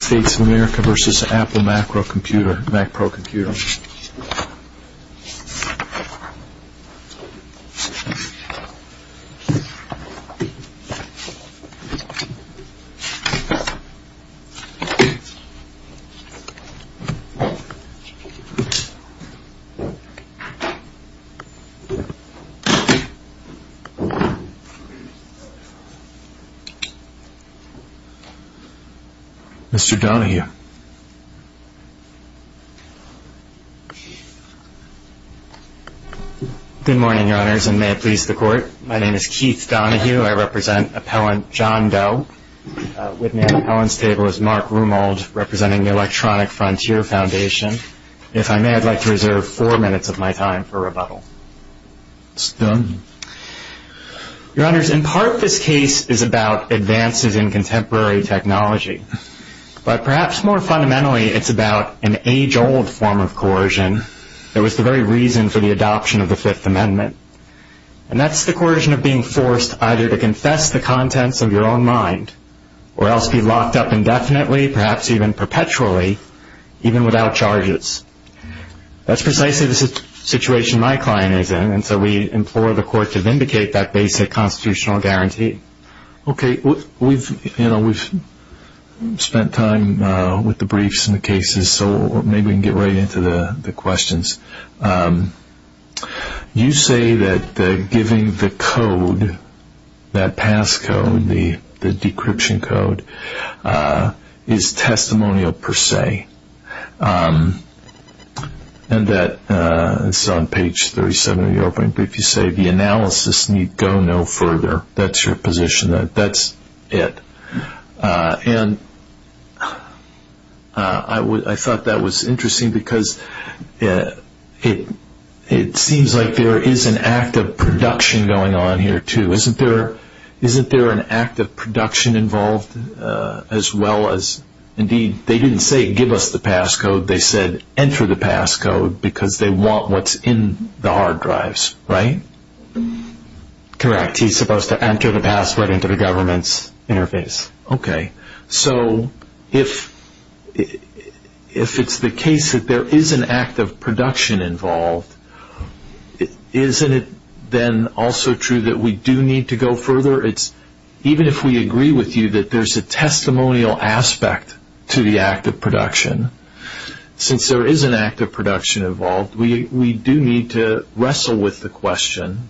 The Mr. Donahue. Good morning, your honors, and may it please the court. My name is Keith Donahue. I represent appellant John Doe. With me at the appellant's table is Mark Rumold, representing the Electronic Frontier Foundation. If I may, I'd like to reserve four minutes of my time for rebuttal. It's done. Your honors, in part, this case is about advances in contemporary technology. But perhaps more fundamentally, it's about an age-old form of coercion that was the very reason for the adoption of the Fifth Amendment. And that's the coercion of being forced either to confess the contents of your own mind, or else be locked up indefinitely, perhaps even perpetually, even without charges. That's precisely the situation my client is in, and so we implore the court to vindicate that basic constitutional guarantee. Okay, we've spent time with the briefs and the cases, so maybe we can get right into the questions. You say that giving the code, that pass code, the decryption code, is testimonial per se. And that, this is on page 37 of your opening brief, you say the analysis need go no further. That's your position. That's it. And I thought that was interesting because it seems like there is an act of production going on here too. Isn't there an act of production involved as well as, indeed they didn't say give us the pass code, they said enter the pass code because they want what's in the hard drives, right? Correct, he's supposed to enter the password into the government's interface. Okay, so if it's the case that there is an act of production involved, isn't it then also true that we do need to go further? Even if we agree with you that there's a testimonial aspect to the act of production, since there is an act of production involved, we do need to wrestle with the question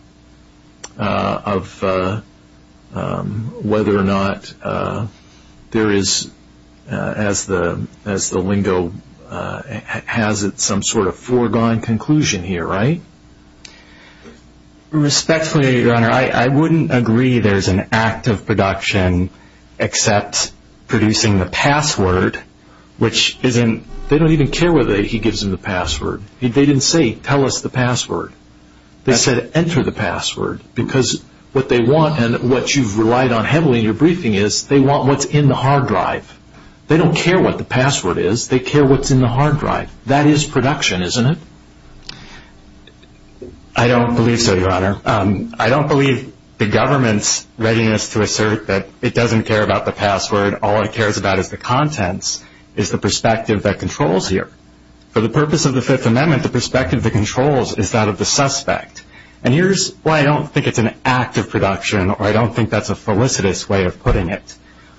of whether or not there is, as the lingo has it, some sort of foregone conclusion here, right? Respectfully, your honor, I wouldn't agree there's an act of production except producing the password, which isn't, they don't even care whether he gives them the password. They didn't say tell us the password. They said enter the password because what they want and what you've relied on heavily in your briefing is they want what's in the hard drive. They don't care what the password is, they care what's in the hard drive. That is production, isn't it? I don't believe so, your honor. I don't believe the government's readiness to assert that it doesn't care about the password, all it cares about is the contents, is the perspective that controls here. For the purpose of the Fifth Amendment, the perspective that controls is that of the suspect. And here's why I don't think it's an act of production, or I don't think that's a felicitous way of putting it.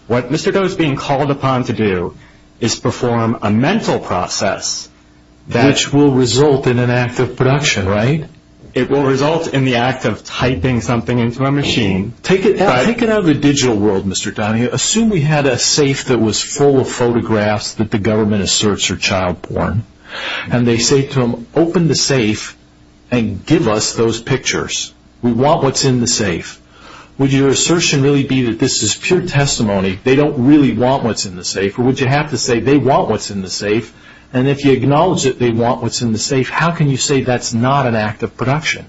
What Mr. Doe is being called upon to do is perform a mental process which will result in an act of production, right? It will result in the act of typing something into a machine. Take it out of the digital world, Mr. Donahue. Assume we had a safe that was full of photographs that the government asserts are child-born, and they say to them, open the safe and give us those pictures. We want what's in the safe. Would your assertion really be that this is pure testimony? They don't really want what's in the safe. They acknowledge that they want what's in the safe. How can you say that's not an act of production?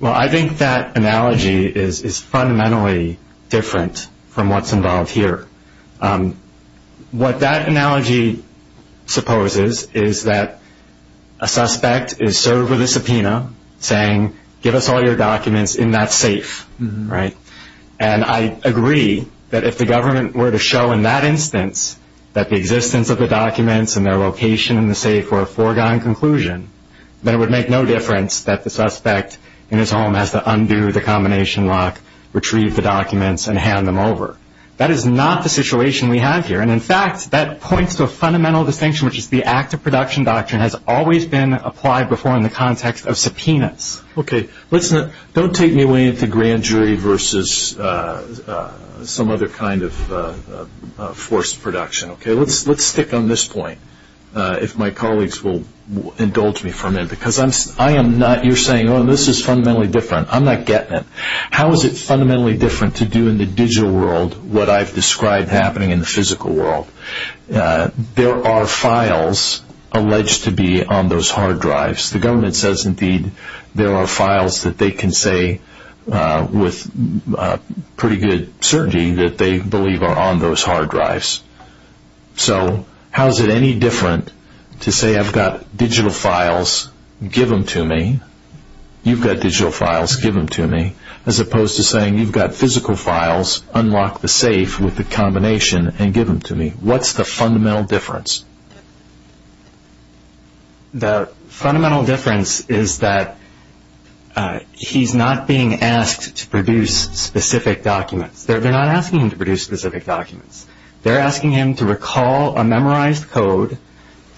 Well, I think that analogy is fundamentally different from what's involved here. What that analogy supposes is that a suspect is served with a subpoena saying, give us all your documents in that safe, right? And I agree that if the government were to show in that instance that the existence of the documents and their location in the safe were a foregone conclusion, then it would make no difference that the suspect in his home has to undo the combination lock, retrieve the documents, and hand them over. That is not the situation we have here. And in fact, that points to a fundamental distinction, which is the act of production doctrine has always been applied before in the context of subpoenas. Okay. Don't take me away into grand jury versus some other kind of forced production. Let's stick on this point, if my colleagues will indulge me for a minute. You're saying this is fundamentally different. I'm not getting it. How is it fundamentally different to do in the digital world what I've described happening in the physical world? There are files alleged to be on those hard drives. The government says indeed there are files that they can say with pretty good certainty that they believe are on those hard drives. So how is it any different to say I've got digital files, give them to me. You've got digital files, give them to me. As opposed to saying you've got physical files, unlock the safe with the fundamental difference is that he's not being asked to produce specific documents. They're not asking him to produce specific documents. They're asking him to recall a memorized code,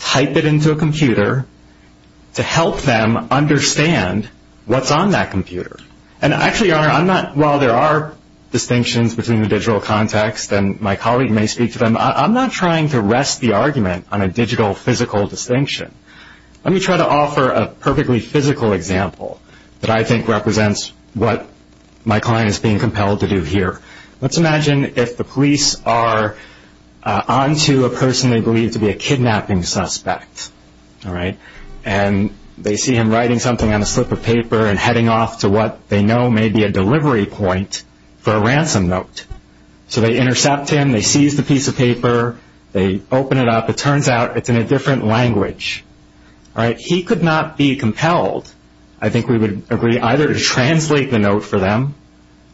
type it into a computer to help them understand what's on that computer. And actually, while there are distinctions between the digital context, and my colleague may speak to them, I'm not trying to rest the argument on a digital physical distinction. Let me try to offer a perfectly physical example that I think represents what my client is being compelled to do here. Let's imagine if the police are onto a person they believe to be a kidnapping suspect. And they see him writing something on a slip of paper and heading off to what they know may be a delivery point for a ransom note. So they intercept him. They seize the piece of paper. They open it up. It turns out it's in a different language. He could not be compelled, I think we would agree, either to translate the note for them,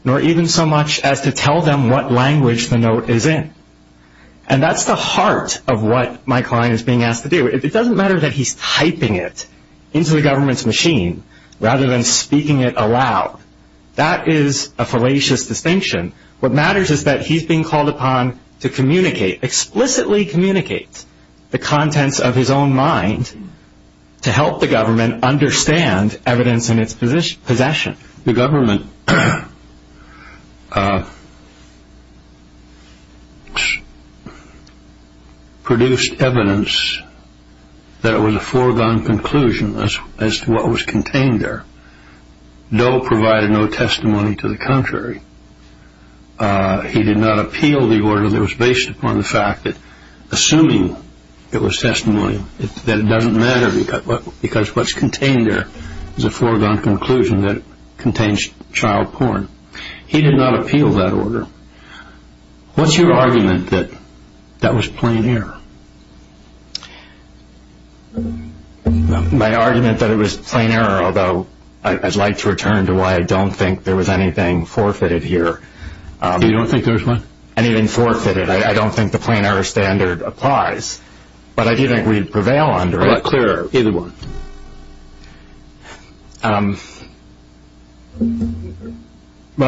nor even so much as to tell them what language the note is in. And that's the heart of what my client is being asked to do. It doesn't matter that he's typing it into the government's machine rather than speaking it aloud. That is a fallacious distinction. What matters is that he's being called upon to communicate, explicitly communicate the contents of his own mind to help the government understand evidence in its possession. The government produced evidence that it was a foregone conclusion as to what was contained there, Doe provided no testimony to the contrary. He did not appeal the order that was based upon the fact that assuming it was testimony that it doesn't matter because what's contained there is a foregone conclusion that contains child porn. He did not appeal that order. What's your argument that that was plain error? My argument that it was plain error, although I'd like to return to why I don't think there was anything forfeited here. You don't think there was anything forfeited? I don't think the plain error standard applies, but I do think we'd prevail under it. Either one.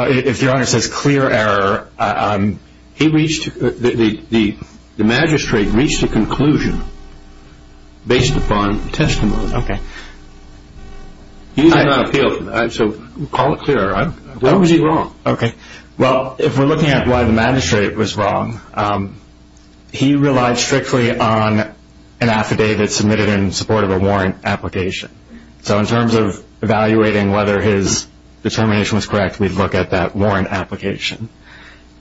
If your honor says clear error, the magistrate reached a conclusion based upon testimony. He did not appeal it, so we'll call it clear error. What was he wrong? If we're looking at why the magistrate was wrong, he relied strictly on an affidavit submitted in support of a warrant application. So in terms of evaluating whether his determination was correct, we'd look at that warrant application.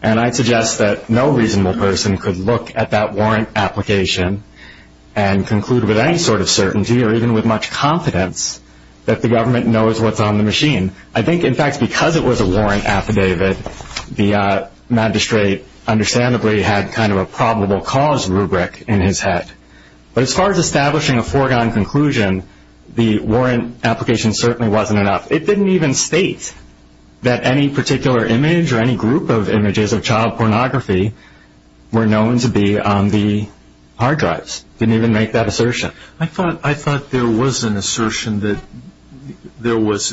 And I'd suggest that no reasonable person could look at that warrant application and conclude with any sort of certainty or even with much confidence that the government knows what's on the machine. I think in fact because it was a warrant affidavit, the magistrate understandably had kind of a probable cause rubric in his head. But as far as establishing a foregone conclusion, the warrant application certainly wasn't enough. It didn't even state that any particular image or any group of images of child pornography were known to be on the hard drives. Didn't even make that assertion. I thought there was an assertion that there was,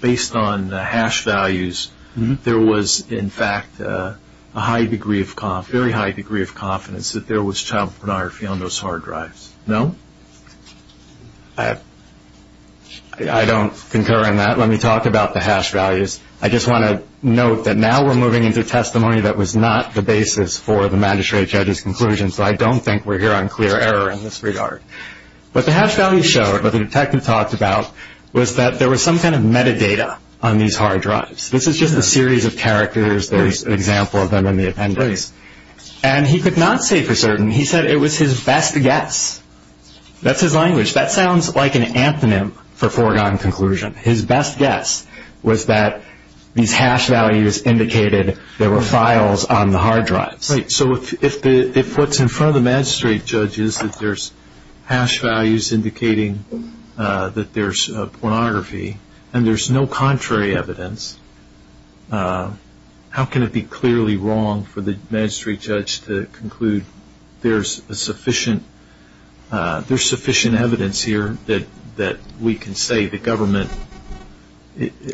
based on the hash values, there was in fact a very high degree of confidence that there was child pornography on those hard drives. No? I don't concur in that. Let me talk about the hash values. I just want to note that now we're moving into testimony that was not the basis for the magistrate judge's conclusion, so I don't think we're here on clear error in this regard. What the hash values show, what the detective talked about, was that there was some kind of series of characters. There's an example of them in the appendix. And he could not say for certain. He said it was his best guess. That's his language. That sounds like an antonym for foregone conclusion. His best guess was that these hash values indicated there were files on the hard drives. Right. So if what's in front of the magistrate judge is that there's hash values indicating that there's pornography and there's no contrary evidence, how can it be clearly wrong for the magistrate judge to conclude there's sufficient evidence here that we can say the government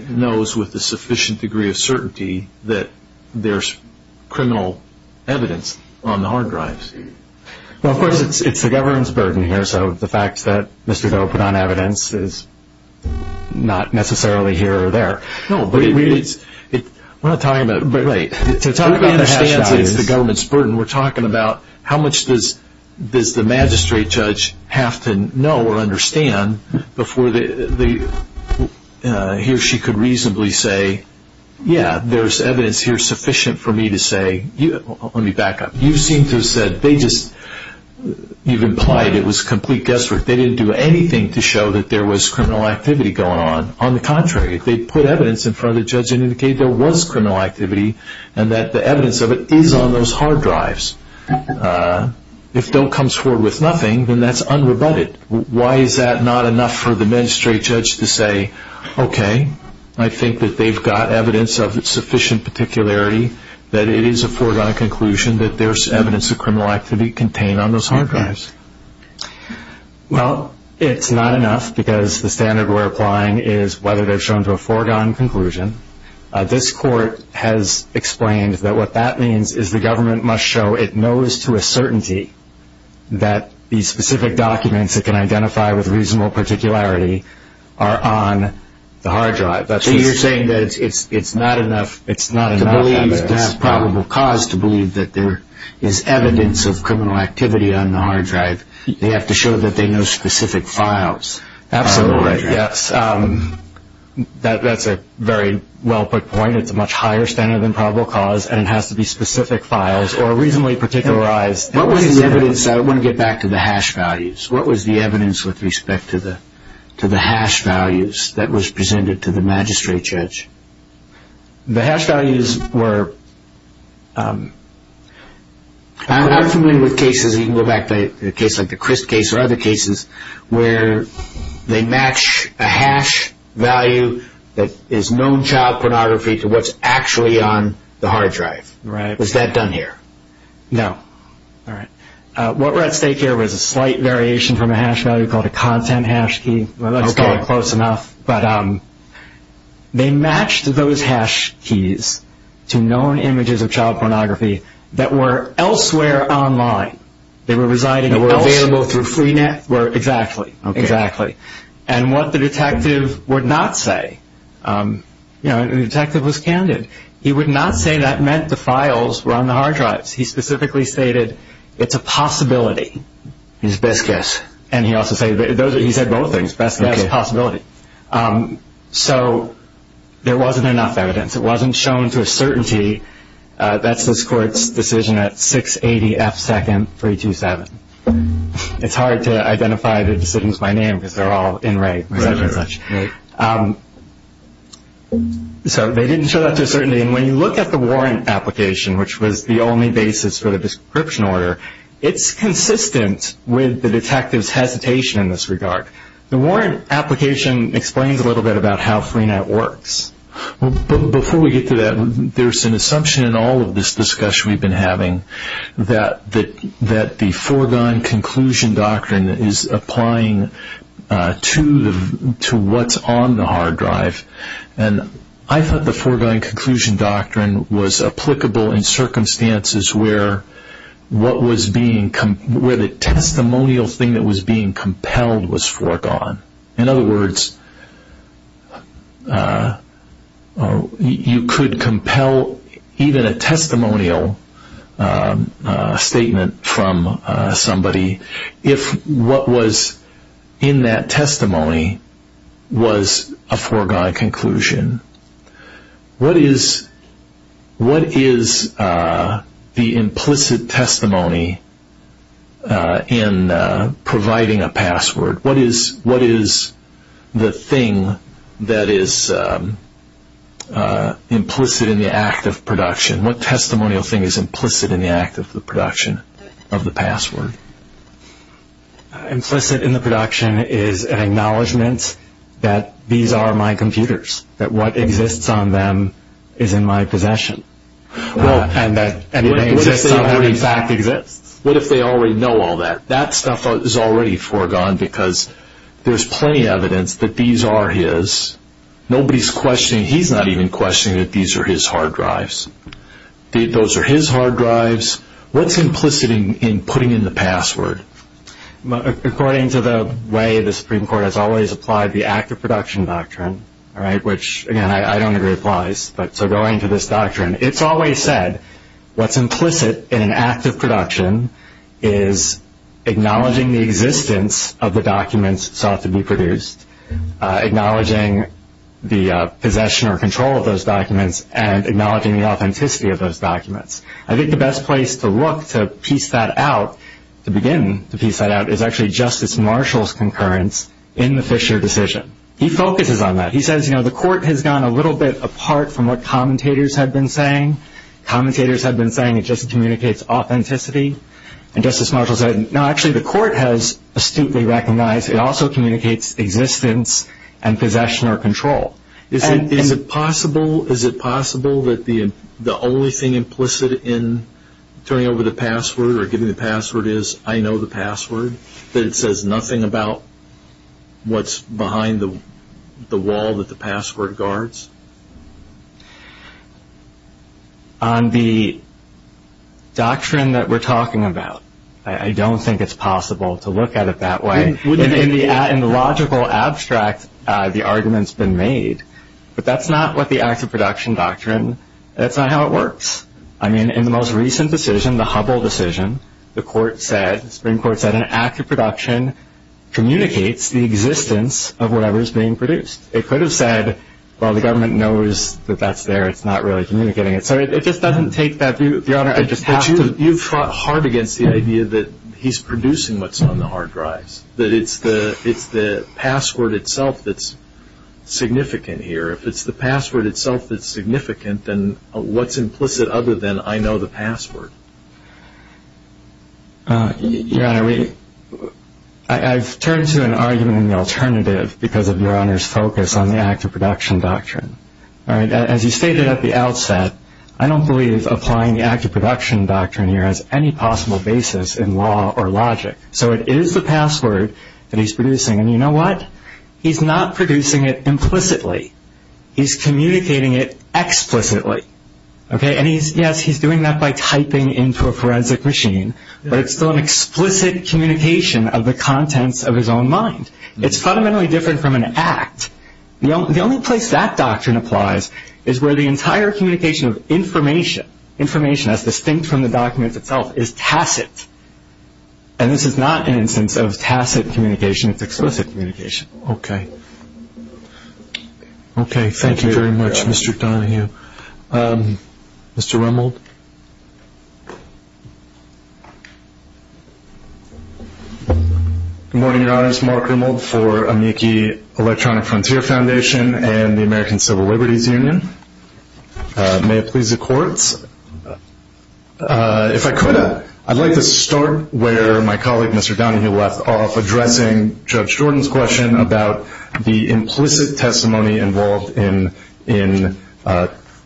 knows with a sufficient degree of certainty that there's criminal evidence on the hard drives? Well, of course, it's the government's burden. The fact that Mr. Doe put on evidence is not necessarily here or there. No, but we're not talking about the government's burden. We're talking about how much does the magistrate judge have to know or understand before he or she could reasonably say, yeah, there's evidence here sufficient for me to say, let me back up, you seem to have said they just, you've implied it was complete guesswork. They didn't do anything to show that there was criminal activity going on. On the contrary, they put evidence in front of the judge and indicated there was criminal activity and that the evidence of it is on those hard drives. If Doe comes forward with nothing, then that's unrebutted. Why is that not enough for the magistrate judge to say, okay, I think that they've got evidence of sufficient particularity that it is a foregone conclusion that there's evidence of criminal activity contained on those hard drives? Well, it's not enough because the standard we're applying is whether they've shown to a foregone conclusion. This court has explained that what that means is the government must show it knows to a certainty that these specific documents it can identify with reasonable particularity are on the hard drive. So you're saying that it's not enough? It's not enough to believe there's probable cause to believe that there is evidence of criminal activity on the hard drive. They have to show that they know specific files. Absolutely, yes. That's a very well put point. It's a much higher standard than probable cause and it has to be specific files or reasonably particularized. What was the evidence, I want to get back to the hash values. What was the evidence with respect to the hash values that was presented to the magistrate judge? The hash values were, I'm familiar with cases, you can go back to a case like the Crist case or other cases, where they match a hash value that is known child pornography to what's actually on the hard drive. Was that done here? No. What we're at stake here was a slight variation from a hash value called a content hash key, let's call it close enough. They matched those hash keys to known images of child pornography that were elsewhere online. They were available through Freenet? Exactly. And what the detective would not say, the detective was candid, he would not say that meant the files were on the hard drives. He specifically stated it's a possibility. His best guess. And he also said both things, best guess, possibility. So there wasn't enough evidence, it wasn't shown to a certainty, that's this court's decision at 680 F2nd 327. It's hard to identify the decisions by name because they're all in rate. So they didn't show that to a certainty and when you look at the warrant application, which was the only basis for the description order, it's consistent with the detective's hesitation in this regard. The warrant application explains a little bit about how Freenet works. Before we get to that, there's an assumption in all of this discussion we've been having that the foregone conclusion doctrine is applying to what's on the hard drive. And I thought the foregone conclusion doctrine was applicable in circumstances where the testimonial thing that was being compelled was foregone. In other words, you could compel even a testimonial statement from somebody if what was in that testimony was a foregone conclusion. What is the implicit testimony in providing a password? What is the thing that is implicit in the act of production? What testimonial thing is implicit in the act of production of the password? Implicit in the production is an acknowledgement that these are my computers, that what exists on them is in my possession. What if they already know all that? That stuff is already foregone because there's plenty of evidence that these are his. He's not even questioning that these are his hard drives. Those are his hard drives. What's implicit in putting in the password? According to the way the Supreme Court has always applied the act of production doctrine, which I don't agree applies, so going to this doctrine, it's always said what's implicit in an act of production is acknowledging the existence of the documents sought to be produced, acknowledging the possession or control of those documents, and acknowledging the authenticity of those documents. I think the best place to look to piece that out, to begin to piece that out, is actually Justice Marshall's concurrence in the Fisher decision. He focuses on that. He says the court has gone a little bit apart from what commentators had been saying. Commentators had been saying it just communicates authenticity. And Justice Marshall said, no, actually the court has astutely recognized it also communicates existence and possession or control. Is it possible that the only thing implicit in turning over the password or giving the password is I know the password, that it says nothing about what's behind the wall that the password guards? On the doctrine that we're talking about, I don't think it's possible to look at it that way. In the logical abstract, the argument's been made. But that's not what the act of production doctrine, that's not how it works. I mean, in the most recent decision, the Hubble decision, the court said, the Supreme Court said, an act of production communicates the existence of whatever is being produced. It could have said, well, the government knows that that's there. It's not really communicating it. So it just doesn't take that view. Your Honor, I just have to- You've fought hard against the idea that he's producing what's on the hard drives, that it's the password itself that's significant here. If it's the password itself that's significant, then what's implicit other than I know the password? Your Honor, I've turned to an argument in the alternative because of Your Honor's focus on the act of production doctrine. All right, as you stated at the outset, I don't believe applying the act of production doctrine here has any possible basis in law or logic. So it is the password that he's producing. And you know what? He's not producing it implicitly. He's communicating it explicitly. And yes, he's doing that by typing into a forensic machine, but it's still an explicit communication of the contents of his own mind. It's fundamentally different from an act. The only place that doctrine applies is where the entire communication of information, information that's distinct from the documents itself, is tacit. And this is not an instance of tacit communication. It's explicit communication. Okay. Okay. Thank you very much, Mr. Donahue. Mr. Rimmel. Good morning, Your Honor. It's Mark Rimmel for Amici Electronic Frontier Foundation and the American Civil Liberties Union. May it please the courts. If I could, I'd like to start where my colleague, Mr. Donahue, left off addressing Judge Jordan's question about the implicit testimony involved in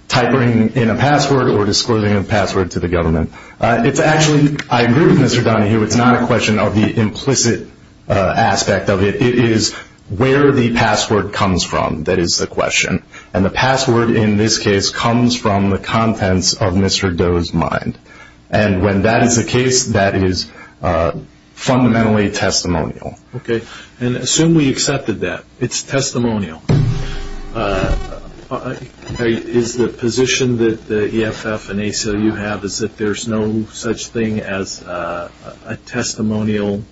typing in a password or disclosing a password to the government. It's actually, I agree with Mr. Donahue, it's not a question of the implicit aspect of it. It is where the password comes from, that is the question. And the password, in this case, comes from the contents of Mr. Doe's mind. And when that is the case, that is fundamentally testimonial. Okay. And assume we accepted that. It's testimonial. Is the position that the EFF and ACLU have is that there's no such thing as a testimonial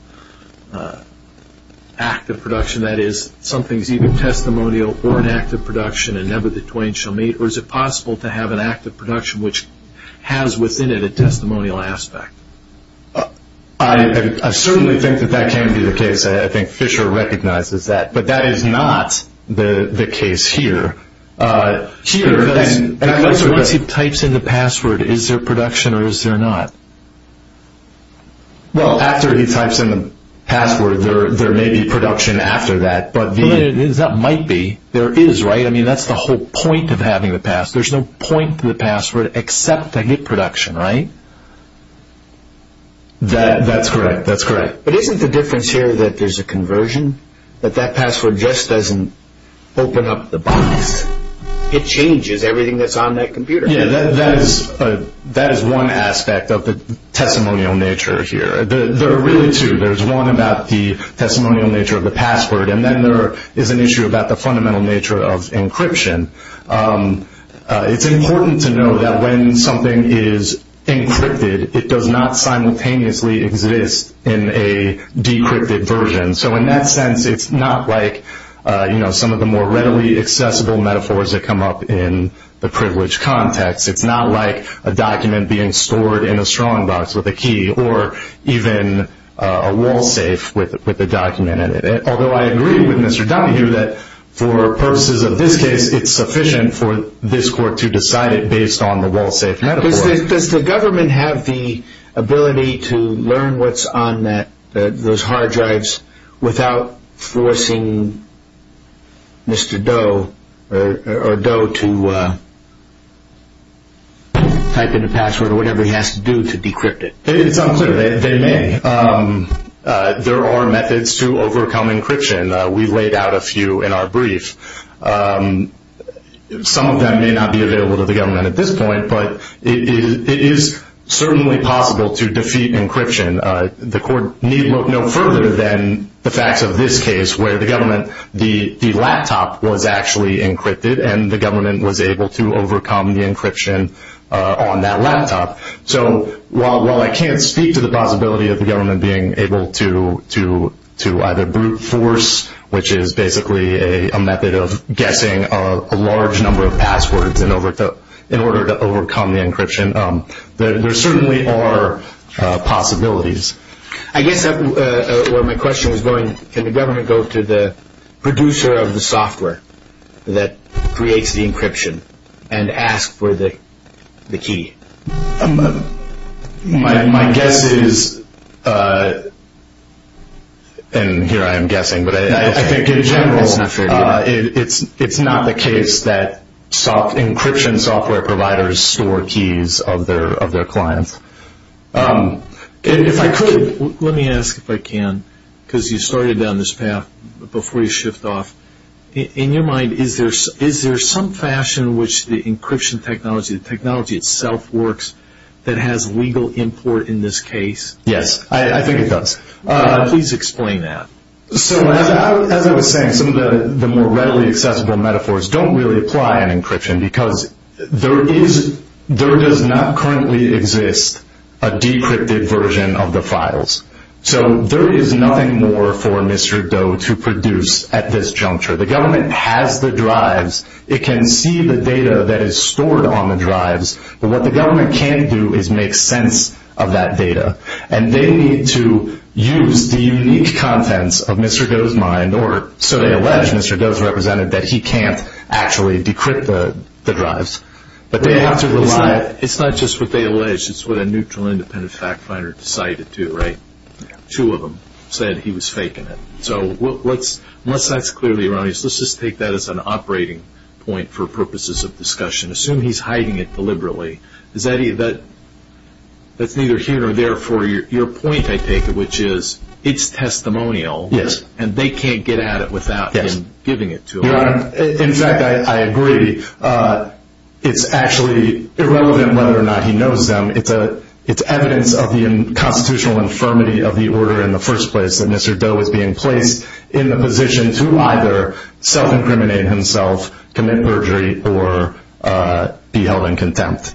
act of production? That is, something is either testimonial or an act of production and never the twain shall meet? Or is it possible to have an act of production which has within it a testimonial aspect? I certainly think that that can be the case. I think Fisher recognizes that. But that is not the case here. Here, once he types in the password, is there production or is there not? Well, after he types in the password, there may be production after that. That might be. There is, right? I mean, that's the whole point of having the password. There's no point to the password except to get production, right? That's correct. That's correct. But isn't the difference here that there's a conversion? That that password just doesn't open up the box? It changes everything that's on that computer. Yeah, that is one aspect of the testimonial nature here. There are really two. There's one about the testimonial nature of the password. And then there is an issue about the fundamental nature of encryption. It's important to know that when something is encrypted, it does not simultaneously exist in a decrypted version. So in that sense, it's not like some of the more privileged contacts. It's not like a document being stored in a strongbox with a key or even a wall safe with a document in it. Although I agree with Mr. Dunhue that for purposes of this case, it's sufficient for this court to decide it based on the wall safe metaphor. Does the government have the ability to learn what's on those hard drives without forcing Mr. Doe or Doe to type in a password or whatever he has to do to decrypt it? It's unclear. They may. There are methods to overcome encryption. We laid out a few in our brief. Some of them may not be available to the government at this point, but it is certainly possible to defeat encryption. The court need look no further than the facts of this case, where the laptop was actually encrypted and the government was able to overcome the encryption on that laptop. So while I can't speak to the possibility of the government being able to either brute force, which is basically a method of guessing a large number of passwords in order to overcome the encryption, there certainly are possibilities. I guess where my question was can the government go to the producer of the software that creates the encryption and ask for the key? My guess is, and here I am guessing, but I think in general it's not the case that encryption software providers store keys of their clients. If I could, let me ask if I can, because you started down this path before you shift off. In your mind, is there some fashion in which the encryption technology, the technology itself works, that has legal import in this case? Yes, I think it does. Please explain that. So as I was saying, some of the more readily accessible metaphors don't really apply in encryption because there is, there does not currently exist a decrypted version of the files. So there is nothing more for Mr. Doe to produce at this juncture. The government has the drives, it can see the data that is stored on the drives, but what the government can do is make sense of that data. And they need to use the unique contents of Mr. Doe's mind, or so they allege, that he can't actually decrypt the drives. It's not just what they allege, it's what a neutral independent fact finder decided to, right? Two of them said he was faking it. So unless that's clearly wrong, let's just take that as an operating point for purposes of discussion. Assume he's hiding it deliberately. That's neither here nor there for your point, I take it, which is it's testimonial, and they can't get at it without him giving it to them. In fact, I agree. It's actually irrelevant whether or not he knows them. It's evidence of the constitutional infirmity of the order in the first place that Mr. Doe is being placed in the position to either self-incriminate himself, commit perjury, or be held in contempt.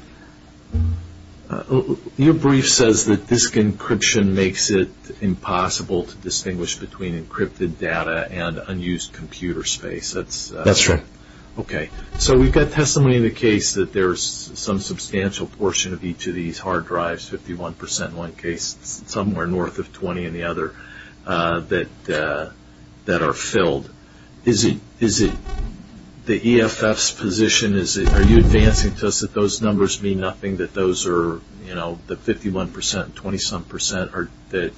Your brief says that disk encryption makes it impossible to distinguish between encrypted data and unused computer space. That's right. Okay. So we've got testimony in the case that there's some substantial portion of each of these hard drives, 51 percent in one case, somewhere north of 20 in the other, that are filled. Is it the EFF's position? Are you answering to us that those numbers mean nothing, that those are, you know, the 51 percent, 20-some percent, or that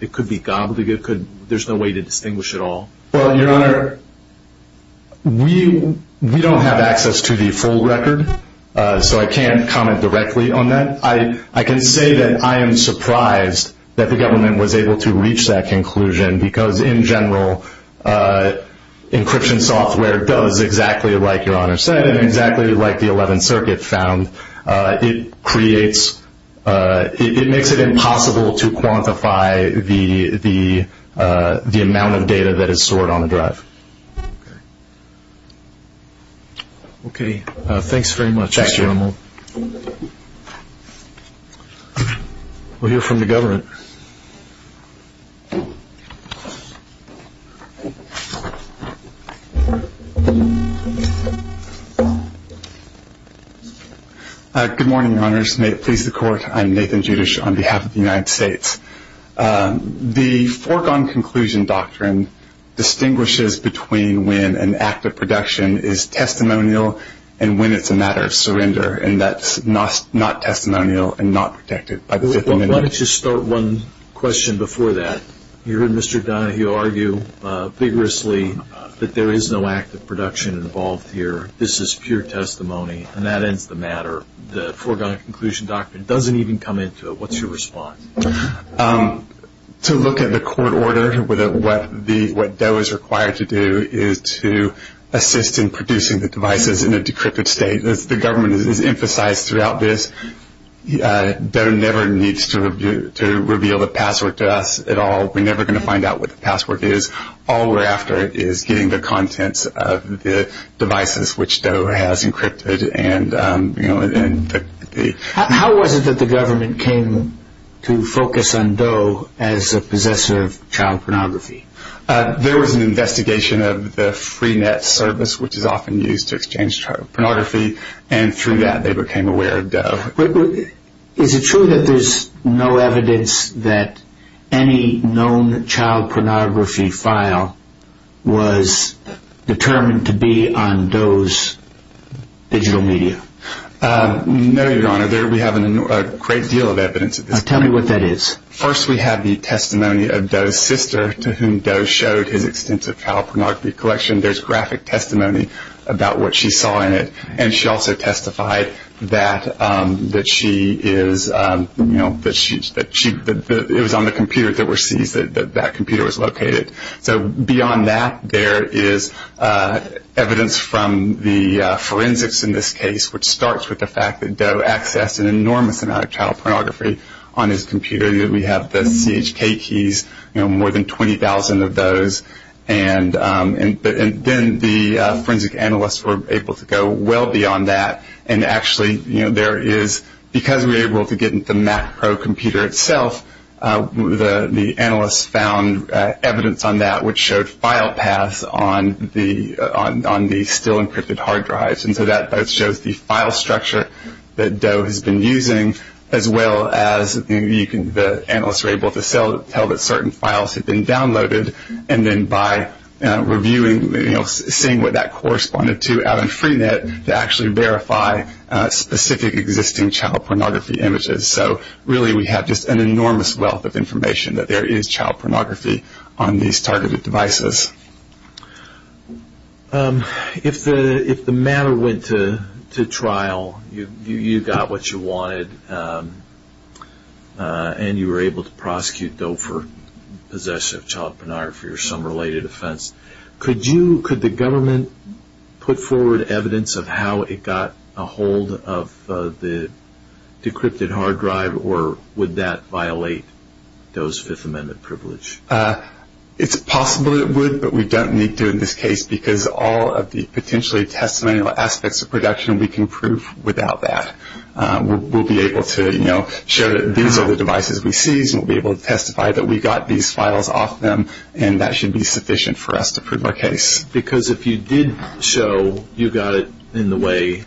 it could be gobbledygook? There's no way to distinguish at all? Well, Your Honor, we don't have access to the full record, so I can't comment directly on that. I can say that I am surprised that the government was able to reach that conclusion, because in circuit found, it creates, it makes it impossible to quantify the amount of data that is stored on the drive. Okay. Thanks very much, Mr. Emerald. We'll hear from the government. Good morning, Your Honors. May it please the Court, I'm Nathan Judish on behalf of the United States. The foregone conclusion doctrine distinguishes between when an act of production is testimonial and when it's a matter of surrender, and that's not testimonial and not protected by the Fifth Amendment. Why don't you start one question before that. You heard Mr. Donahue argue vigorously that there is no act of production involved here. This is pure testimony, and that ends the matter. The foregone conclusion doctrine doesn't even come into it. What's your response? To look at the court order, what DOE is required to do is to assist in producing the devices in a decrypted state. As the government has emphasized throughout this, DOE never needs to reveal the password. All we're after is getting the contents of the devices which DOE has encrypted. How was it that the government came to focus on DOE as a possessor of child pornography? There was an investigation of the Freenet service, which is often used to exchange pornography, and through that they became aware of DOE. Is it true that there's no evidence that any known child pornography file was determined to be on DOE's digital media? No, Your Honor. We have a great deal of evidence. Tell me what that is. First, we have the testimony of DOE's sister, to whom DOE showed his extensive child pornography collection. There's graphic testimony about what she saw in it, and she also that that computer was located. Beyond that, there is evidence from the forensics in this case, which starts with the fact that DOE accessed an enormous amount of child pornography on his computer. We have the CHK keys, more than 20,000 of those. Then the forensic analysts were able to go well beyond that. There is, because we were able to get into the Mac Pro computer itself, the analysts found evidence on that, which showed file paths on the still encrypted hard drives. And so that shows the file structure that DOE has been using, as well as the analysts were able to tell that certain files had been downloaded, and then by reviewing, seeing what that corresponded out in Freenet, to actually verify specific existing child pornography images. So really, we have just an enormous wealth of information that there is child pornography on these targeted devices. If the matter went to trial, you got what you wanted, and you were able to prosecute DOE for possession of child pornography or some related offense, could you, could the government put forward evidence of how it got a hold of the decrypted hard drive, or would that violate DOE's Fifth Amendment privilege? It's possible it would, but we don't need to in this case, because all of the potentially testimonial aspects of production, we can prove without that. We'll be able to, you know, show that these are the devices we seized, and we'll be able to testify that we got these files off them, and that should be sufficient for us to prove our case. Because if you did show you got it in the way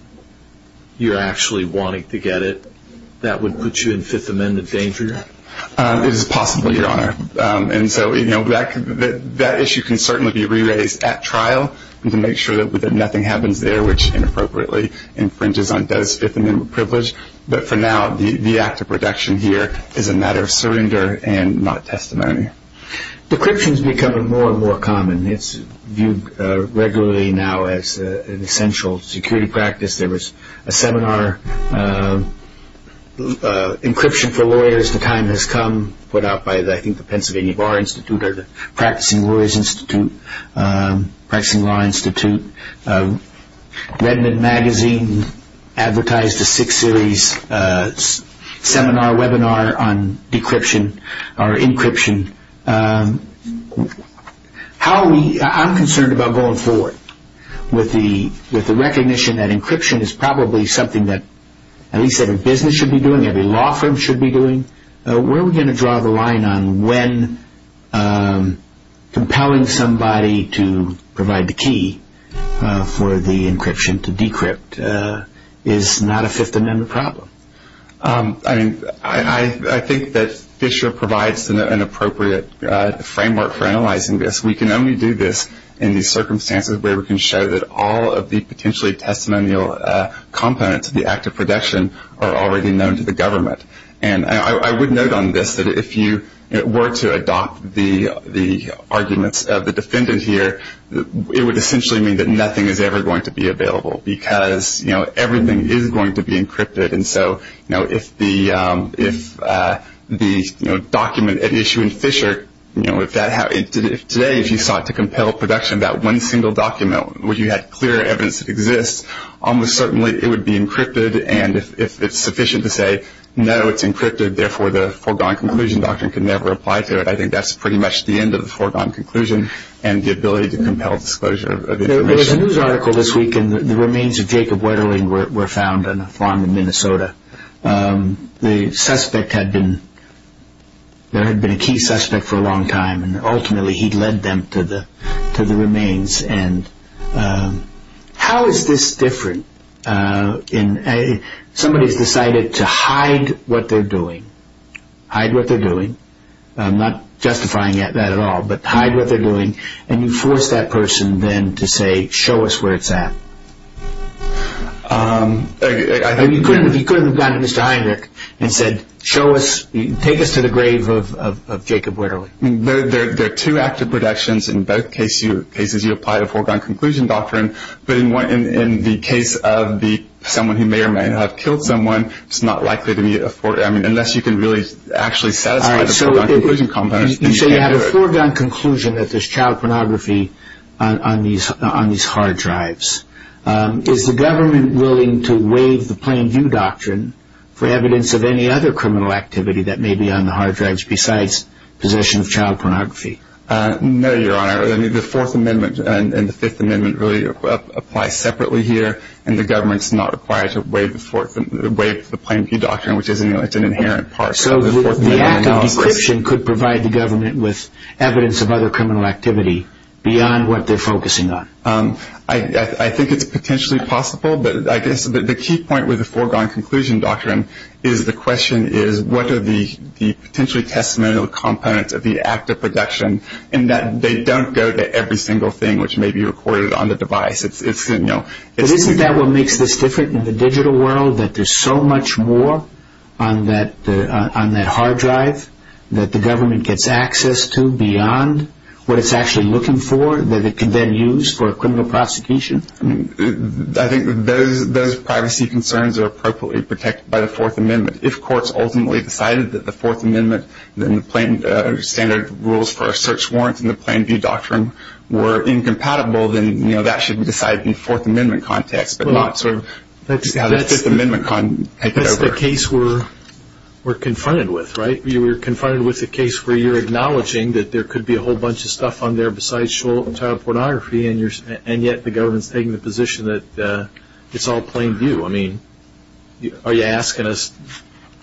you're actually wanting to get it, that would put you in Fifth Amendment danger? It is possible, Your Honor, and so, you know, that issue can certainly be re-raised at trial, and to make sure that nothing happens there which inappropriately infringes on DOE's Fifth Amendment privilege, but for now, the act of production here is a matter of surrender and not testimony. Decryption's becoming more and more common. It's viewed regularly now as an essential security practice. There was a seminar, Encryption for Lawyers, The Time Has Come, put out by, I think, the Pennsylvania Bar Institute, or the Practicing Lawyers Institute, Practicing Law Institute. Redmond Magazine advertised a six-series seminar, webinar, on decryption or encryption. I'm concerned about going forward with the recognition that encryption is probably something that at least every business should be doing, every law firm should be doing. Where are we going to draw the line on when compelling somebody to provide the key for the encryption to decrypt is not a Fifth Amendment problem? I mean, I think that Fisher provides an appropriate framework for analyzing this. We can only do this in these circumstances where we can show that all of the potentially testimonial components of the act of production are already known to the government, and I would note on this that if you were to adopt the arguments of the defendant here, it would essentially mean that nothing is ever going to be available because, you know, everything is going to be encrypted. And so, you know, if the document at issue in Fisher, you know, if that happened, today if you sought to compel production about one single document where you had clear evidence that exists, almost certainly it would be encrypted, and if it's sufficient to say, no, it's encrypted, therefore the foregone conclusion doctrine can never apply to it, I think that's pretty much the end of the foregone conclusion and the ability to compel disclosure of information. There was a news article this week, and the remains of Jacob Long in Minnesota, the suspect had been, there had been a key suspect for a long time, and ultimately he led them to the remains, and how is this different? Somebody's decided to hide what they're doing, hide what they're doing, I'm not justifying that at all, but hide what they're doing, and you force that person then to say, show us where it's at. And you could have gone to Mr. Heinrich and said, show us, take us to the grave of Jacob Wetterly. There are two active productions in both cases, you apply a foregone conclusion doctrine, but in the case of someone who may or may not have killed someone, it's not likely to be a foregone, I mean, unless you can really actually satisfy the foregone conclusion component. So you have a foregone conclusion that there's child pornography on these hard drives. Is the government willing to waive the Plain View Doctrine for evidence of any other criminal activity that may be on the hard drives besides possession of child pornography? No, Your Honor, I mean, the Fourth Amendment and the Fifth Amendment really apply separately here, and the government's not required to waive the Fourth, waive the Plain View Doctrine, which is, you know, it's an inherent part of the Fourth Amendment. So the act of decryption could provide the government with evidence of other criminal activity beyond what they're I think it's potentially possible, but I guess the key point with the foregone conclusion doctrine is the question is what are the potentially testimonial components of the act of production, and that they don't go to every single thing which may be recorded on the device. It's, you know, But isn't that what makes this different in the digital world, that there's so much more on that hard drive that the government gets access to beyond what it's actually looking for, that it can then use for a criminal prosecution? I think those privacy concerns are appropriately protected by the Fourth Amendment. If courts ultimately decided that the Fourth Amendment and the standard rules for a search warrant and the Plain View Doctrine were incompatible, then, you know, that should be decided in Fourth Amendment context, but not sort of Fifth Amendment. That's the case we're confronted with, right? We're confronted with a case where you're acknowledging that there could be a whole bunch of stuff on child pornography, and yet the government's taking the position that it's all Plain View. I mean, are you asking us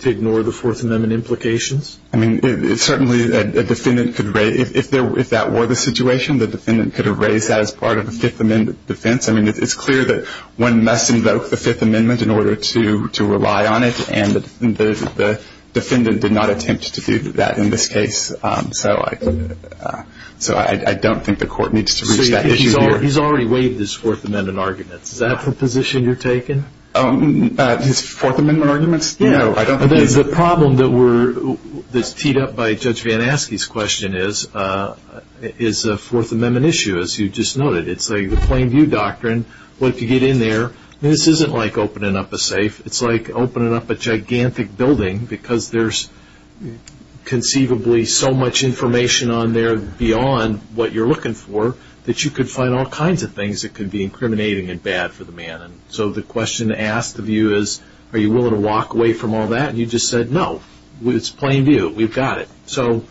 to ignore the Fourth Amendment implications? I mean, certainly, if that were the situation, the defendant could have raised that as part of a Fifth Amendment defense. I mean, it's clear that one must invoke the Fifth Amendment in order to rely on it, and the defendant did not attempt to do that in this case. So I don't think the court needs to reach that issue here. He's already waived his Fourth Amendment arguments. Is that the position you're taking? His Fourth Amendment arguments? No, I don't think he's... The problem that's teed up by Judge Van Aske's question is, is the Fourth Amendment issue, as you just noted, it's like the Plain View Doctrine, what if you get in there? This isn't like opening up a safe. It's like opening up a gigantic building because there's conceivably so much information on there beyond what you're that you could find all kinds of things that could be incriminating and bad for the man. So the question asked of you is, are you willing to walk away from all that? And you just said, no. It's Plain View. We've got it. So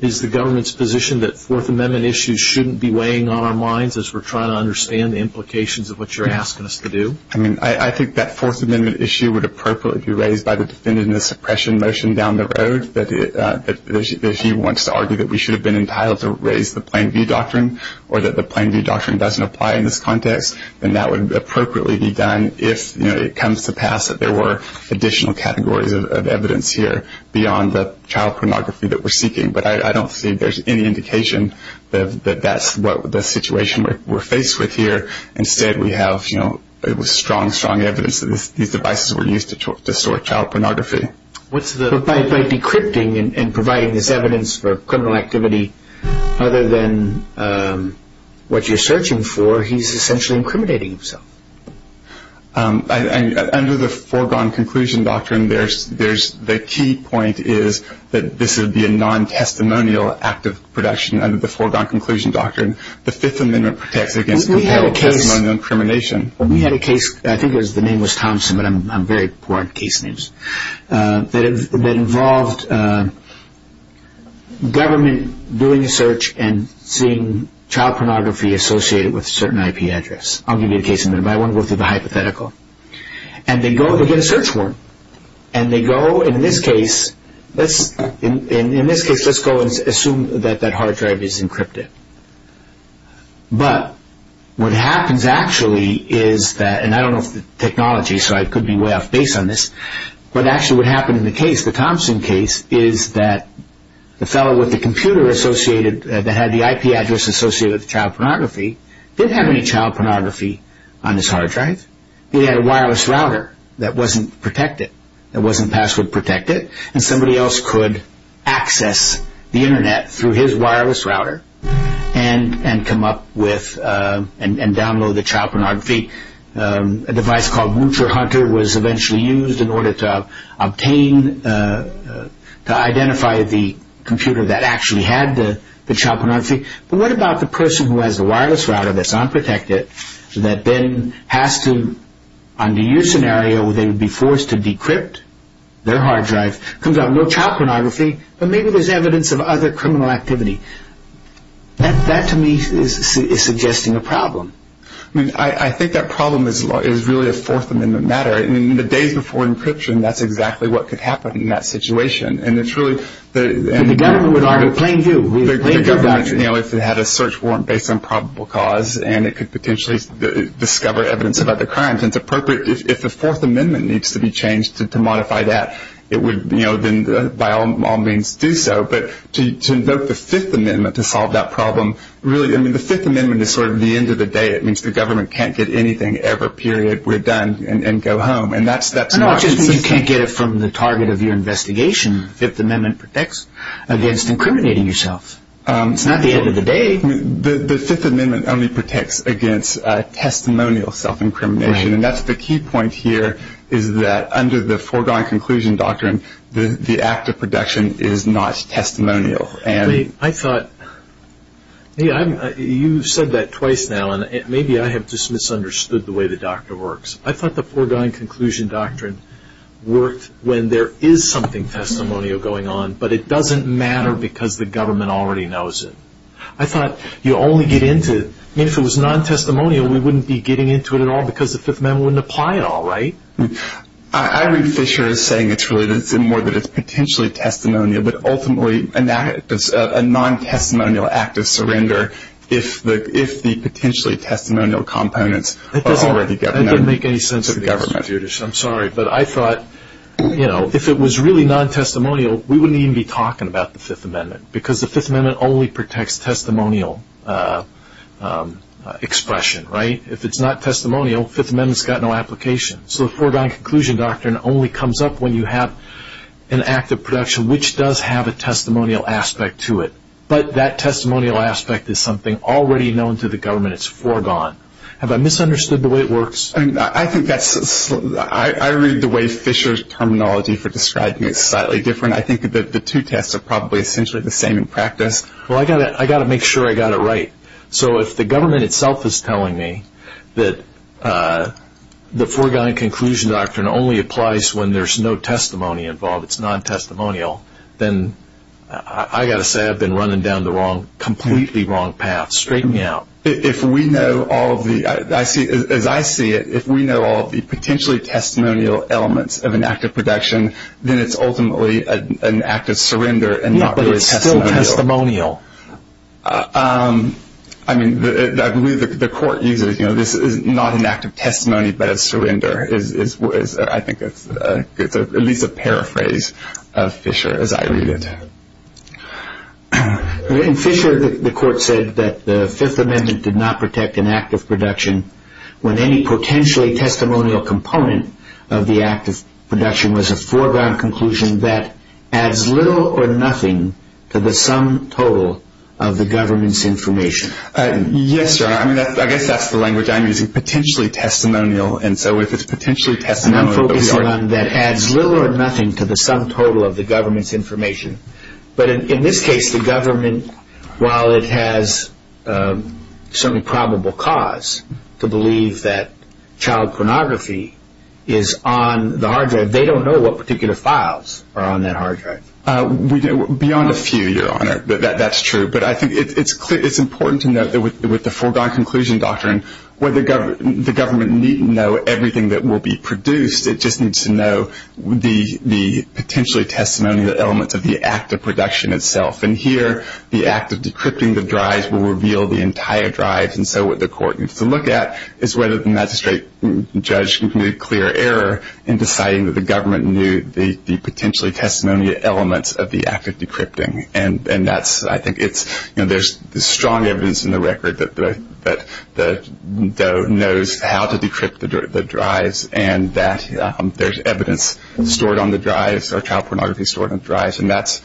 is the government's position that Fourth Amendment issues shouldn't be weighing on our minds as we're trying to understand the implications of what you're asking us to do? I mean, I think that Fourth Amendment issue would appropriately be raised by the defendant in the suppression motion down the road. If he wants to argue that we should have been entitled to raise the Plain View Doctrine or that the Plain View Doctrine doesn't apply in this context, then that would appropriately be done if it comes to pass that there were additional categories of evidence here beyond the child pornography that we're seeking. But I don't see there's any indication that that's what the situation we're faced with here. Instead, we have strong, strong evidence that these devices were to store child pornography. But by decrypting and providing this evidence for criminal activity, other than what you're searching for, he's essentially incriminating himself. Under the foregone conclusion doctrine, there's the key point is that this would be a non-testimonial act of production under the foregone conclusion doctrine. The Fifth Amendment protects against incrimination. We had a case, I think the name was Thompson, but I'm very poor at case names, that involved government doing a search and seeing child pornography associated with a certain IP address. I'll give you a case in a minute, but I want to go through the hypothetical. And they go, they get a search warrant. And they go, in this case, let's, in this case, let's go and assume that that hard drive is encrypted. But what happens, actually, is that, and I don't know if the technology, so I could be way off base on this, but actually what happened in the case, the Thompson case, is that the fellow with the computer associated, that had the IP address associated with child pornography, didn't have any child pornography on his hard drive. He had a wireless router that wasn't protected, that wasn't password protected, and somebody else could access the internet through his wireless router and come up with, and download the child pornography. A device called Wucher Hunter was eventually used in order to obtain, to identify the computer that actually had the child pornography. But what about the person who has the wireless router that's unprotected, that then has to, under your comes out, no child pornography, but maybe there's evidence of other criminal activity. That, to me, is suggesting a problem. I mean, I think that problem is really a Fourth Amendment matter. I mean, the days before encryption, that's exactly what could happen in that situation. And it's really, the government would argue, plain view, if it had a search warrant based on probable cause, and it could potentially discover evidence of other crimes, it's appropriate, if the Fourth Amendment needs to be changed to modify that, it would, by all means, do so. But to invoke the Fifth Amendment to solve that problem, really, I mean, the Fifth Amendment is sort of the end of the day. It means the government can't get anything ever, period, we're done, and go home. And that's not the system. I don't know, I just think you can't get it from the target of your investigation. The Fifth Amendment protects against incriminating yourself. It's not the end of the day. The Fifth Amendment only protects against testimonial self-incrimination. And that's the key point here, is that under the foregone conclusion doctrine, the act of protection is not testimonial. I thought, you said that twice now, and maybe I have just misunderstood the way the doctrine works. I thought the foregone conclusion doctrine worked when there is something testimonial going on, but it doesn't matter because the government already knows it. I thought you only get into, if it was non-testimonial, we wouldn't be getting into it at all because the Fifth Amendment wouldn't apply at all, right? Irene Fisher is saying it's really more that it's potentially testimonial, but ultimately, and that is a non-testimonial act of surrender if the potentially testimonial components are already governed by the government. That doesn't make any sense to me, Justice, I'm sorry. But I thought, if it was really non-testimonial, we wouldn't even be talking about the Fifth Amendment, because the Fifth Amendment only protects testimonial expression, right? If it's not testimonial, the Fifth Amendment has no application. So the foregone conclusion doctrine only comes up when you have an act of protection which does have a testimonial aspect to it. But that testimonial aspect is something already known to the government, it's foregone. Have I misunderstood the way it works? I read the way Fisher's terminology for essentially the same in practice. Well, I've got to make sure I've got it right. So if the government itself is telling me that the foregone conclusion doctrine only applies when there's no testimony involved, it's non-testimonial, then I've got to say I've been running down the completely wrong path. Straighten me out. As I see it, if we know all of the potentially testimonial elements of an act of protection, then it's ultimately an act of surrender. But it's still testimonial. I mean, I believe the court uses, you know, this is not an act of testimony, but a surrender. I think it's at least a paraphrase of Fisher, as I read it. In Fisher, the court said that the Fifth Amendment did not protect an act of protection when any potentially testimonial component of the act of protection was a foregone conclusion that adds little or nothing to the sum total of the government's information. Yes, sir. I mean, I guess that's the language I'm using. Potentially testimonial. And so if it's potentially testimonial. I'm focusing on that adds little or nothing to the sum total of the government's information. But in this case, the government, while it has certainly probable cause to believe that child pornography is on the hard drive, they don't know what particular files are on that hard drive. Beyond a few, Your Honor. That's true. But I think it's important to note that with the foregone conclusion doctrine, the government needn't know everything that will be produced. It just needs to know the potentially testimonial elements of the act of protection itself. And here, the act of decrypting the drives will reveal the entire drive. And so what the court needs to look at is whether the magistrate judge can make a clear error in deciding that the government knew the potentially testimonial elements of the act of decrypting. And that's, I think, it's, you know, there's strong evidence in the record that the DOE knows how to decrypt the drives and that there's evidence stored on the drives or child pornography stored on drives. And that's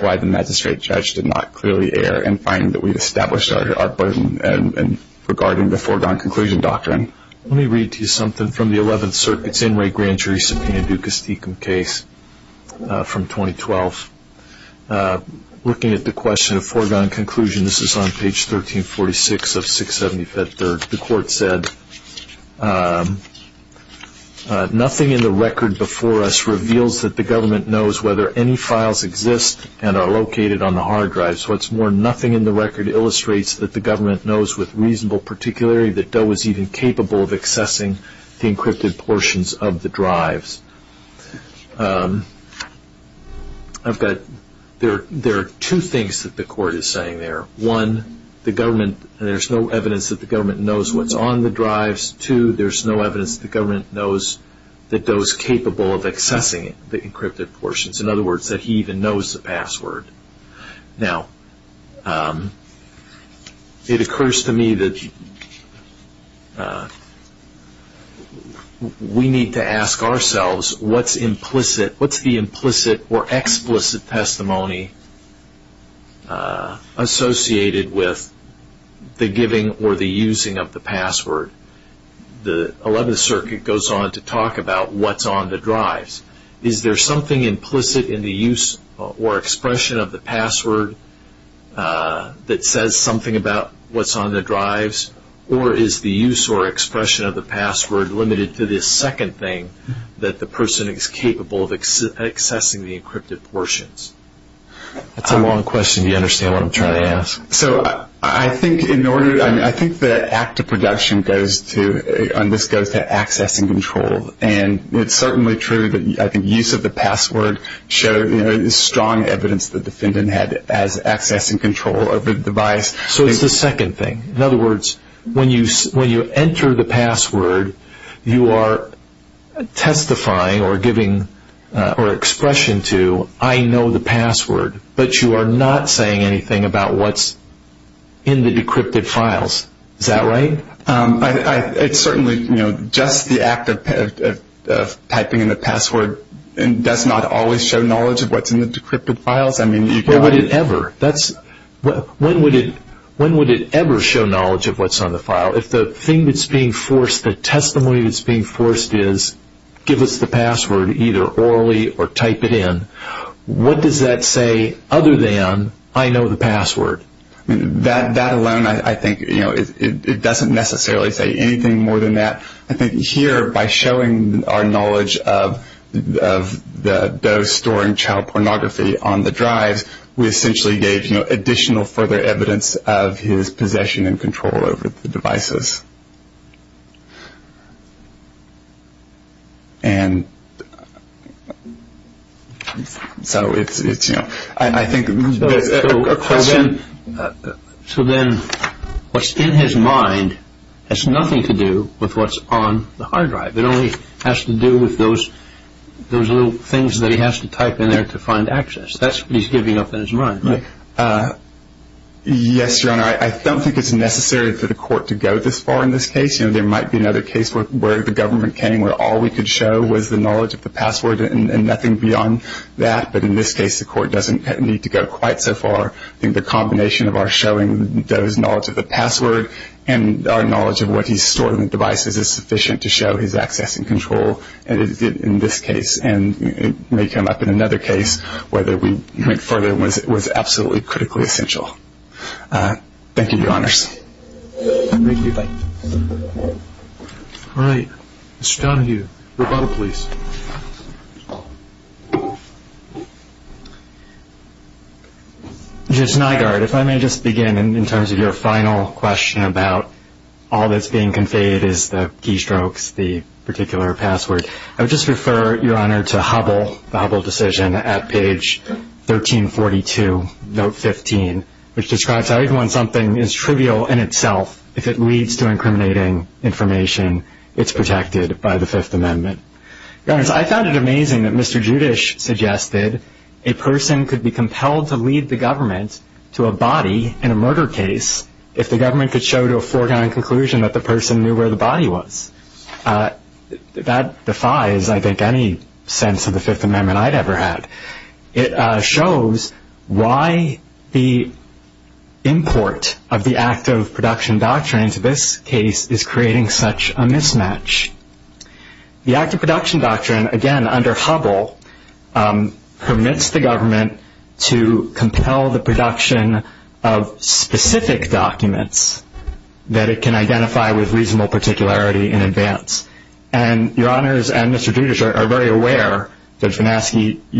why the magistrate judge did not clearly err in finding that we've established our burden and regarding the foregone conclusion doctrine. Let me read to you something from the 11th Circuit's In Re Grand Juris Subpoena Duca Stecum case from 2012. Looking at the question of foregone conclusion, this is on page 1346 of 675 third, the court said, nothing in the record before us knows whether any files exist and are located on the hard drives. What's more, nothing in the record illustrates that the government knows with reasonable particularity that DOE is even capable of accessing the encrypted portions of the drives. I've got, there are two things that the court is saying there. One, the government, there's no evidence that the government knows what's on the drives. Two, there's no evidence that the government knows that DOE's capable of accessing the encrypted portions. In other words, that he even knows the password. Now, it occurs to me that we need to ask ourselves what's implicit, what's the implicit or explicit testimony associated with the giving or the using of the password. The 11th Circuit goes on to talk about what's on the drives. Is there something implicit in the use or expression of the password that says something about what's on the drives? Or is the use or expression of the password limited to this second thing that the person is capable of accessing the encrypted portions? That's a long question. Do you understand what I'm trying to ask? So, I think in order, I mean, I think the act of production goes to, on this goes to accessing control. And it's certainly true that I think use of the password showed, you know, strong evidence that the defendant had as accessing control over the device. So, it's the second thing. In other words, when you enter the password, you are testifying or giving or expression to, I know the password, but you are not saying anything about what's in the decrypted files. Is that right? It's certainly, you know, just the act of typing in the password does not always show knowledge of what's in the decrypted files. I mean, you've got... When would it ever? When would it ever show knowledge of what's on the file? If the thing that's being forced, the testimony that's being forced is, give us the password either orally or type it in. What does that say other than, I know the password? That alone, I think, you know, it doesn't necessarily say anything more than that. I think here, by showing our knowledge of those storing child pornography on the drives, we essentially gave additional further evidence of his possession and control over the devices. And so, it's, you know, I think... So then, what's in his mind has nothing to do with what's on the hard drive. It only has to do with those little things that he has to type in there to find access. That's what he's giving up in his mind, right? Yes, Your Honor. I don't think it's necessary for the court to go this far in this case. You know, there might be another case where the government came, where all we could show was the knowledge of the password and nothing beyond that. But in this case, the court doesn't need to go quite so far. I think the combination of our showing those knowledge of the password and our knowledge of what he's storing in the devices is sufficient to show his access and control in this case. And it may come up in another case, whether we make further was All right. Mr. Donahue, rebuttal, please. Judge Nygaard, if I may just begin in terms of your final question about all that's being conveyed is the keystrokes, the particular password. I would just refer, Your Honor, to Hubble, the Hubble decision at page 1342, note 15, which describes how even when something is trivial in itself, if it leads to incriminating information, it's protected by the Fifth Amendment. Your Honor, I found it amazing that Mr. Judish suggested a person could be compelled to lead the government to a body in a murder case if the government could show to a foregone conclusion that the person knew where the body was. That defies, I think, any sense of the Fifth Amendment I'd ever had. It shows why the import of the act of production doctrine into this case is creating such a mismatch. The act of production doctrine, again, under Hubble, permits the government to compel the production of specific documents that it can identify with reasonable You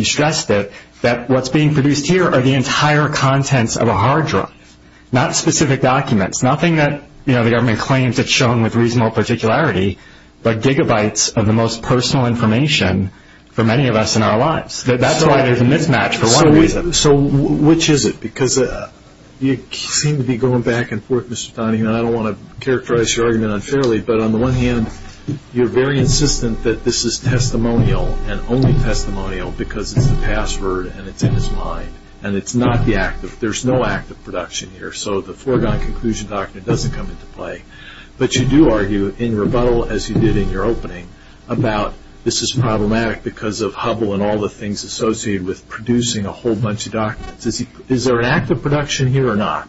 stressed it, that what's being produced here are the entire contents of a hard drive, not specific documents, nothing that the government claims it's shown with reasonable particularity, but gigabytes of the most personal information for many of us in our lives. That's why there's a mismatch for one reason. So which is it? Because you seem to be going back and forth, Mr. Donahue, and I don't want to characterize your argument unfairly, but on the one hand, you're very insistent that this is testimonial and only testimonial because it's the password and it's in his mind, and it's not the act of, there's no act of production here, so the foregone conclusion doctrine doesn't come into play. But you do argue, in rebuttal, as you did in your opening, about this is problematic because of Hubble and all the things associated with producing a whole bunch of documents. Is there an act of production here or not?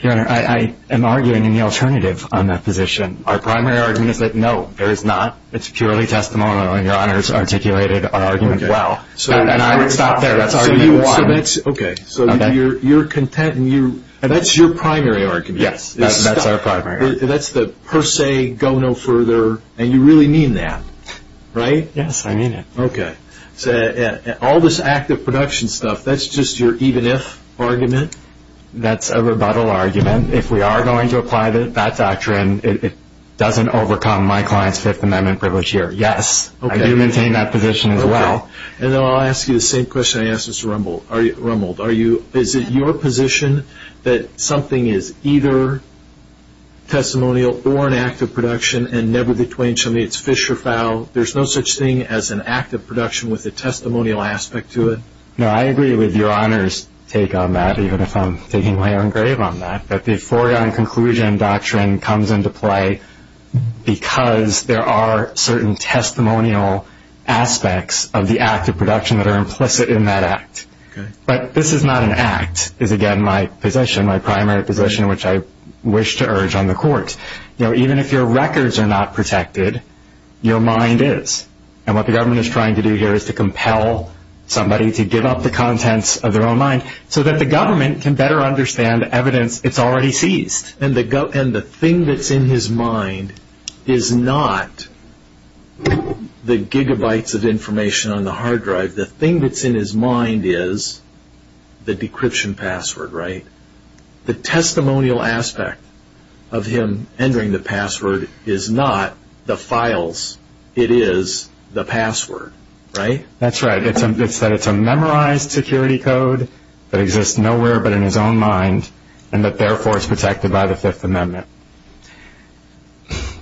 Your Honor, I am arguing in the alternative on that position. Our primary argument is that no, there is not. It's purely testimonial, and Your Honor has articulated our argument well. And I would stop there. That's argument one. Okay, so you're content, and that's your primary argument. Yes, that's our primary. That's the per se, go no further, and you really mean that, right? Yes, I mean it. Okay. All this act of production stuff, that's just your even if argument? That's a rebuttal argument. If we are going to apply that doctrine, it doesn't overcome my client's Fifth Amendment privilege here. Yes, I do maintain that position as well. And then I'll ask you the same question I asked Mr. Rumbold. Is it your position that something is either testimonial or an act of production, and never between somebody, it's fish or fowl? There's no such thing as an act of production with a testimonial aspect to it? No, I agree with Your Honor's take on that, even if I'm taking my own grave on that, that the foregone conclusion doctrine comes into play because there are certain testimonial aspects of the act of production that are implicit in that act. But this is not an act, is again my position, my primary position, which I wish to urge on the court. Even if your records are not protected, your mind is. And what the government is trying to do here is to compel somebody to give up the contents of their own so that the government can better understand evidence it's already seized. And the thing that's in his mind is not the gigabytes of information on the hard drive. The thing that's in his mind is the decryption password, right? The testimonial aspect of him entering the password is not the files. It is the password, right? That's right. It's that it's a memorized security code that exists nowhere but in his own mind, and that therefore is protected by the Fifth Amendment.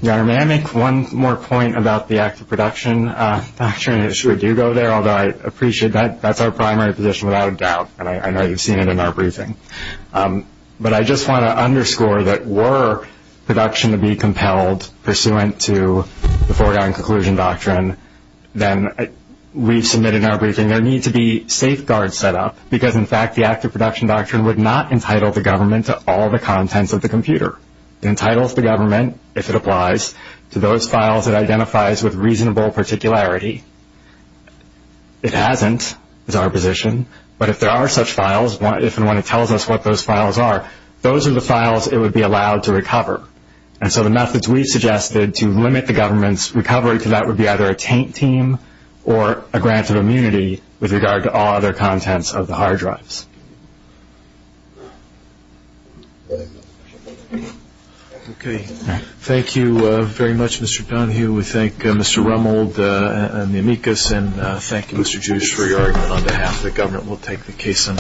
Your Honor, may I make one more point about the act of production doctrine? I'm sure you go there, although I appreciate that. That's our primary position without a doubt, and I know you've in our briefing. But I just want to underscore that were production to be compelled pursuant to the foregoing conclusion doctrine, then we've submitted in our briefing there needs to be safeguards set up, because in fact the act of production doctrine would not entitle the government to all the contents of the computer. It entitles the government, if it applies, to those files it identifies with reasonable particularity. It hasn't, is our position, but if there are such files, if and when it tells us what those files are, those are the files it would be allowed to recover. And so the methods we suggested to limit the government's recovery to that would be either a taint team or a grant of immunity with regard to all other contents of the hard drives. Thank you very much, Mr. Dunhue. We thank Mr. Rummold and the amicus, and thank you, Mr. Jewish, for your argument on behalf of the government. We'll take the case.